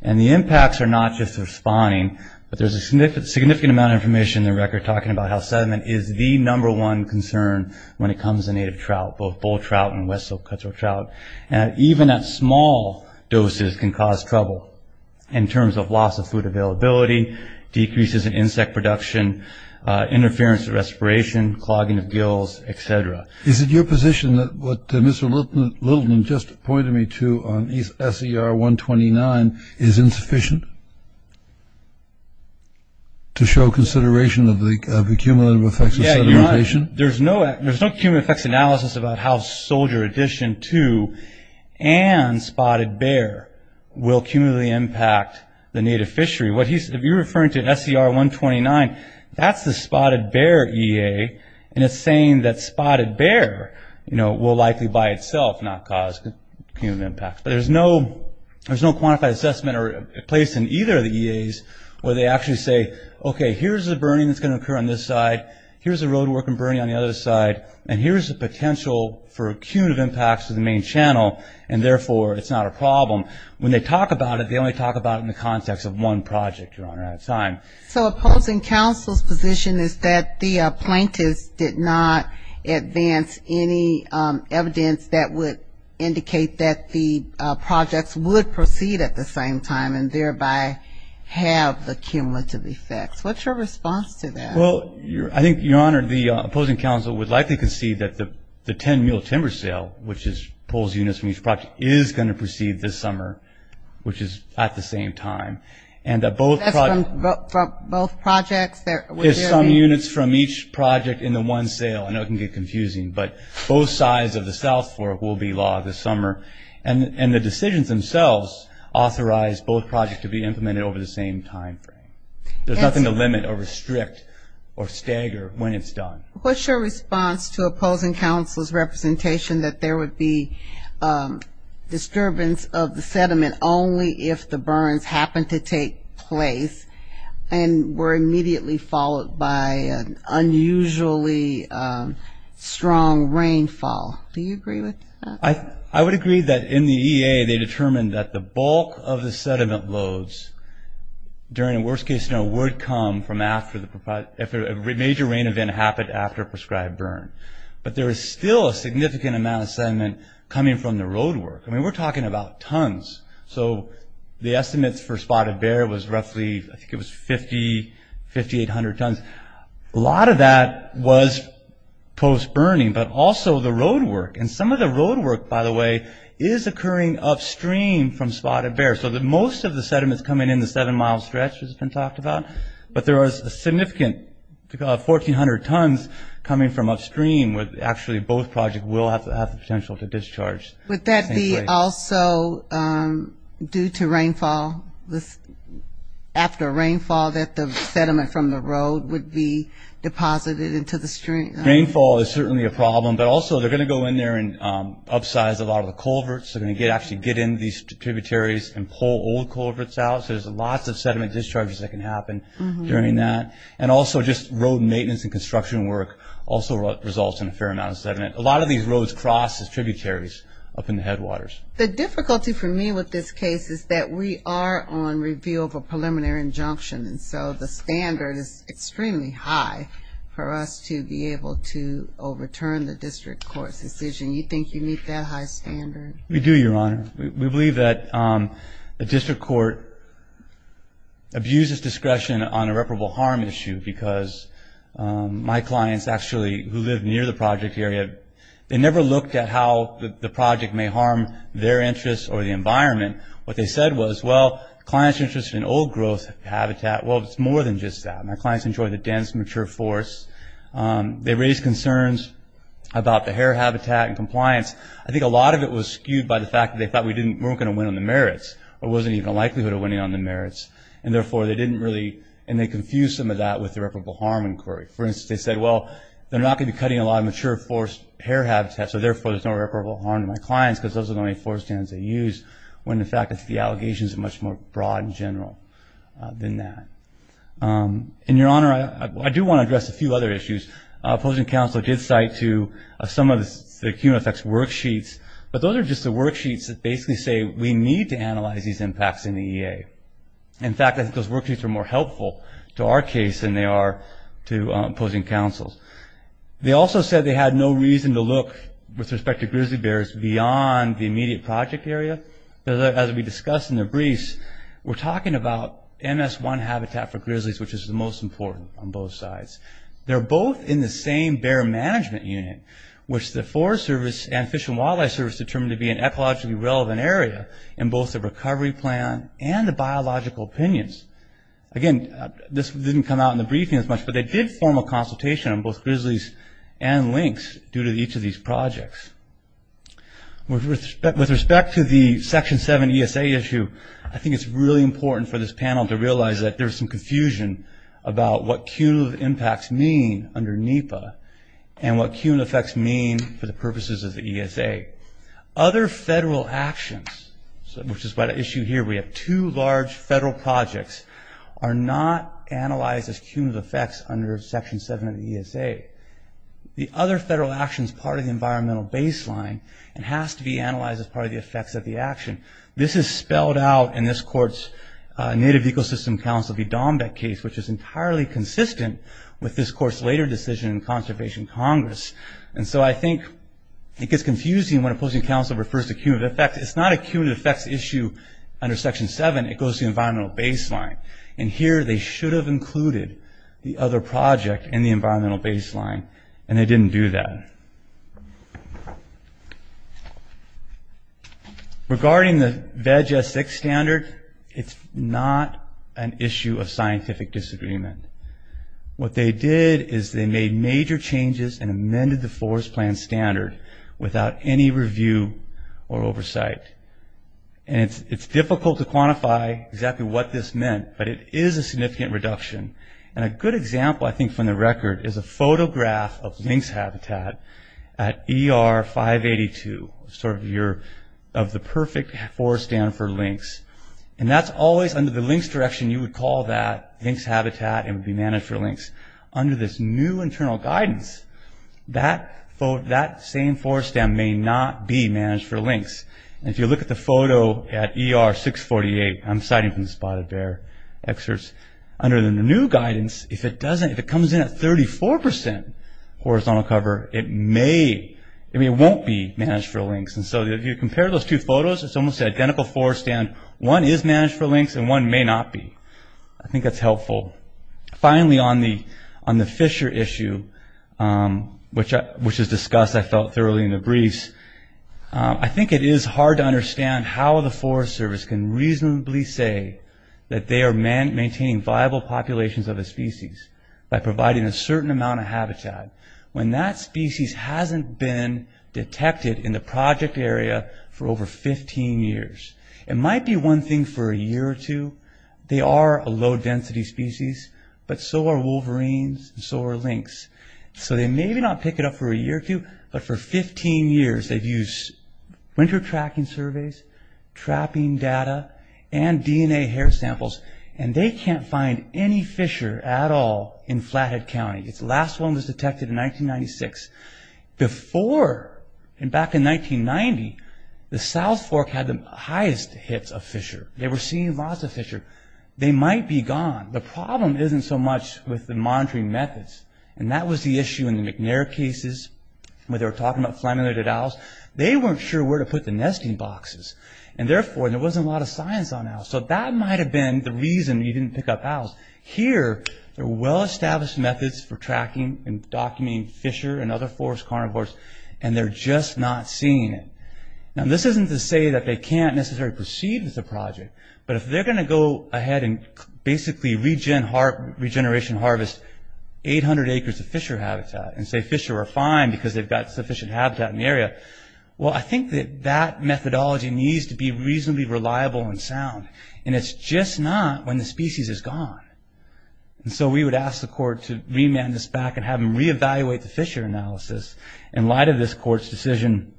And the impacts are not just responding, but there's a significant amount of information in the record talking about how sediment is the number one concern when it comes to native trout, both bull trout and west silt cutthroat trout. And even at small doses can cause trouble in terms of loss of food availability, decreases in insect production, interference of respiration, clogging of gills, et cetera. Is it your position that what Mr. Littleton just pointed me to on SER 129 is insufficient to show consideration of the cumulative effects of sedimentation? There's no cumulative effects analysis about how soldier addition to and spotted bear will cumulatively impact the native fishery. If you're referring to SER 129, that's the spotted bear EA, and it's saying that spotted bear will likely by itself not cause cumulative impacts. But there's no quantified assessment placed in either of the EAs where they actually say, okay, here's the burning that's going to occur on this side, here's the road work and burning on the other side, and here's the potential for a queue of impacts to the main channel, and therefore it's not a problem. When they talk about it, they only talk about it in the context of one project, Your Honor, at a time. So opposing counsel's position is that the plaintiffs did not advance any evidence that would indicate that the projects would proceed at the same time and thereby have the cumulative effects. What's your response to that? Well, I think, Your Honor, the opposing counsel would likely concede that the 10-meal timber sale, which pulls units from each project, is going to proceed this summer, which is at the same time. That's from both projects? There's some units from each project in the one sale. I know it can get confusing, but both sides of the South Fork will be logged this summer. And the decisions themselves authorize both projects to be implemented over the same time frame. There's nothing to limit or restrict or stagger when it's done. What's your response to opposing counsel's representation that there would be disturbance of the sediment only if the burns happened to take place and were immediately followed by an unusually strong rainfall? Do you agree with that? I would agree that in the EA they determined that the bulk of the sediment loads during a worst-case scenario would come from a major rain event after a prescribed burn. But there is still a significant amount of sediment coming from the roadwork. I mean, we're talking about tons. So the estimates for Spotted Bear was roughly, I think it was 5,800 tons. A lot of that was post-burning, but also the roadwork. And some of the roadwork, by the way, is occurring upstream from Spotted Bear. So most of the sediment is coming in the seven-mile stretch, as has been talked about. But there was a significant 1,400 tons coming from upstream, where actually both projects will have the potential to discharge. Would that be also due to rainfall, after rainfall, that the sediment from the road would be deposited into the stream? Rainfall is certainly a problem. But also they're going to go in there and upsize a lot of the culverts. They're going to actually get into these tributaries and pull old culverts out. So there's lots of sediment discharges that can happen during that. And also just road maintenance and construction work also results in a fair amount of sediment. A lot of these roads cross the tributaries up in the headwaters. The difficulty for me with this case is that we are on review of a preliminary injunction. And so the standard is extremely high for us to be able to overturn the district court's decision. You think you meet that high standard? We do, Your Honor. We believe that the district court abuses discretion on irreparable harm issue, because my clients, actually, who live near the project area, they never looked at how the project may harm their interests or the environment. What they said was, well, clients are interested in old growth habitat. Well, it's more than just that. My clients enjoy the dense, mature forests. They raise concerns about the hair habitat and compliance. I think a lot of it was skewed by the fact that they thought we weren't going to win on the merits or wasn't even a likelihood of winning on the merits. And, therefore, they didn't really, and they confused some of that with the irreparable harm inquiry. For instance, they said, well, they're not going to be cutting a lot of mature forest hair habitat, so, therefore, there's no irreparable harm to my clients, because those are the only forest standards they use, when the fact is the allegations are much more broad and general than that. In your honor, I do want to address a few other issues. Opposing counsel did cite some of the QMFX worksheets, but those are just the worksheets that basically say we need to analyze these impacts in the EA. In fact, I think those worksheets are more helpful to our case than they are to opposing counsel's. They also said they had no reason to look, with respect to grizzly bears, beyond the immediate project area. As we discussed in the briefs, we're talking about MS1 habitat for grizzlies, which is the most important on both sides. They're both in the same bear management unit, which the Forest Service and Fish and Wildlife Service determined to be an ecologically relevant area, in both the recovery plan and the biological opinions. Again, this didn't come out in the briefing as much, but they did form a consultation on both grizzlies and lynx, due to each of these projects. With respect to the Section 7 ESA issue, I think it's really important for this panel to realize that there's some confusion about what cumulative impacts mean under NEPA, and what cumulative effects mean for the purposes of the ESA. Other federal actions, which is what I issue here, we have two large federal projects, are not analyzed as cumulative effects under Section 7 of the ESA. The other federal action is part of the environmental baseline, and has to be analyzed as part of the effects of the action. This is spelled out in this Court's Native Ecosystem Council v. Dombek case, which is entirely consistent with this Court's later decision in Conservation Congress. I think it gets confusing when opposing counsel refers to cumulative effects. It's not a cumulative effects issue under Section 7. It goes to the environmental baseline. Here, they should have included the other project in the environmental baseline, and they didn't do that. Regarding the VEG S6 standard, it's not an issue of scientific disagreement. What they did is they made major changes and amended the forest plan standard without any review or oversight. It's difficult to quantify exactly what this meant, but it is a significant reduction. A good example, I think, from the record is a photograph of lynx habitat at ER 582, sort of the perfect forest stand for lynx. That's always under the lynx direction. You would call that lynx habitat, and it would be managed for lynx. Under this new internal guidance, that same forest stand may not be managed for lynx. If you look at the photo at ER 648, I'm citing from the spotted bear excerpts, under the new guidance, if it comes in at 34 percent horizontal cover, it won't be managed for lynx. If you compare those two photos, it's almost an identical forest stand. One is managed for lynx, and one may not be. I think that's helpful. Finally, on the Fisher issue, which is discussed, I felt, thoroughly in the briefs, I think it is hard to understand how the Forest Service can reasonably say that they are maintaining viable populations of a species by providing a certain amount of habitat, when that species hasn't been detected in the project area for over 15 years. It might be one thing for a year or two. They are a low-density species, but so are wolverines, and so are lynx. They may not pick it up for a year or two, but for 15 years, they've used winter tracking surveys, trapping data, and DNA hair samples, and they can't find any fisher at all in Flathead County. Its last one was detected in 1996. Before, back in 1990, the South Fork had the highest hits of fisher. They might be gone. The problem isn't so much with the monitoring methods, and that was the issue in the McNair cases, where they were talking about flammulated owls. They weren't sure where to put the nesting boxes, and therefore there wasn't a lot of science on owls. So that might have been the reason you didn't pick up owls. Here, there are well-established methods for tracking and documenting fisher and other forest carnivores, and they're just not seeing it. Now, this isn't to say that they can't necessarily proceed with the project, but if they're going to go ahead and basically regeneration harvest 800 acres of fisher habitat and say fisher are fine because they've got sufficient habitat in the area, well, I think that that methodology needs to be reasonably reliable and sound, and it's just not when the species is gone. So we would ask the court to remand this back and have them reevaluate the fisher analysis. In light of this court's decision,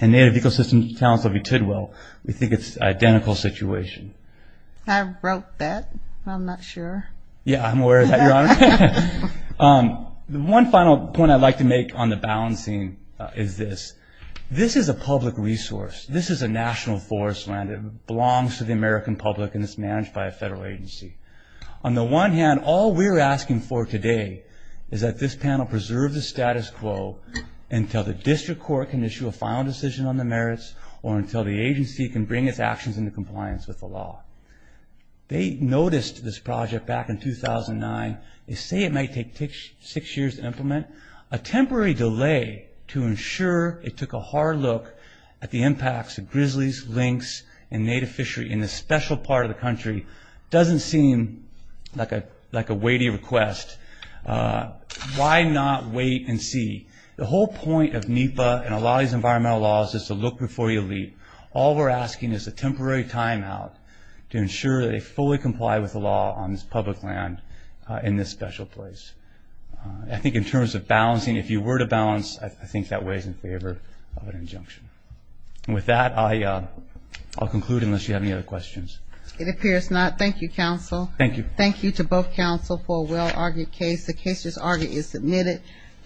and Native Ecosystems Council v. Tidwell, we think it's an identical situation. I wrote that. I'm not sure. Yeah, I'm aware of that, Your Honor. One final point I'd like to make on the balancing is this. This is a public resource. This is a national forest land. It belongs to the American public, and it's managed by a federal agency. On the one hand, all we're asking for today is that this panel preserve the status quo until the district court can issue a final decision on the merits or until the agency can bring its actions into compliance with the law. They noticed this project back in 2009. They say it might take six years to implement. A temporary delay to ensure it took a hard look at the impacts of grizzlies, lynx, and native fishery in this special part of the country doesn't seem like a weighty request. Why not wait and see? The whole point of NEPA and a lot of these environmental laws is to look before you leap. All we're asking is a temporary timeout to ensure they fully comply with the law on this public land in this special place. I think in terms of balancing, if you were to balance, I think that weighs in favor of an injunction. With that, I'll conclude unless you have any other questions. It appears not. Thank you, counsel. Thank you. Thank you to both counsel for a well-argued case. The case is already submitted.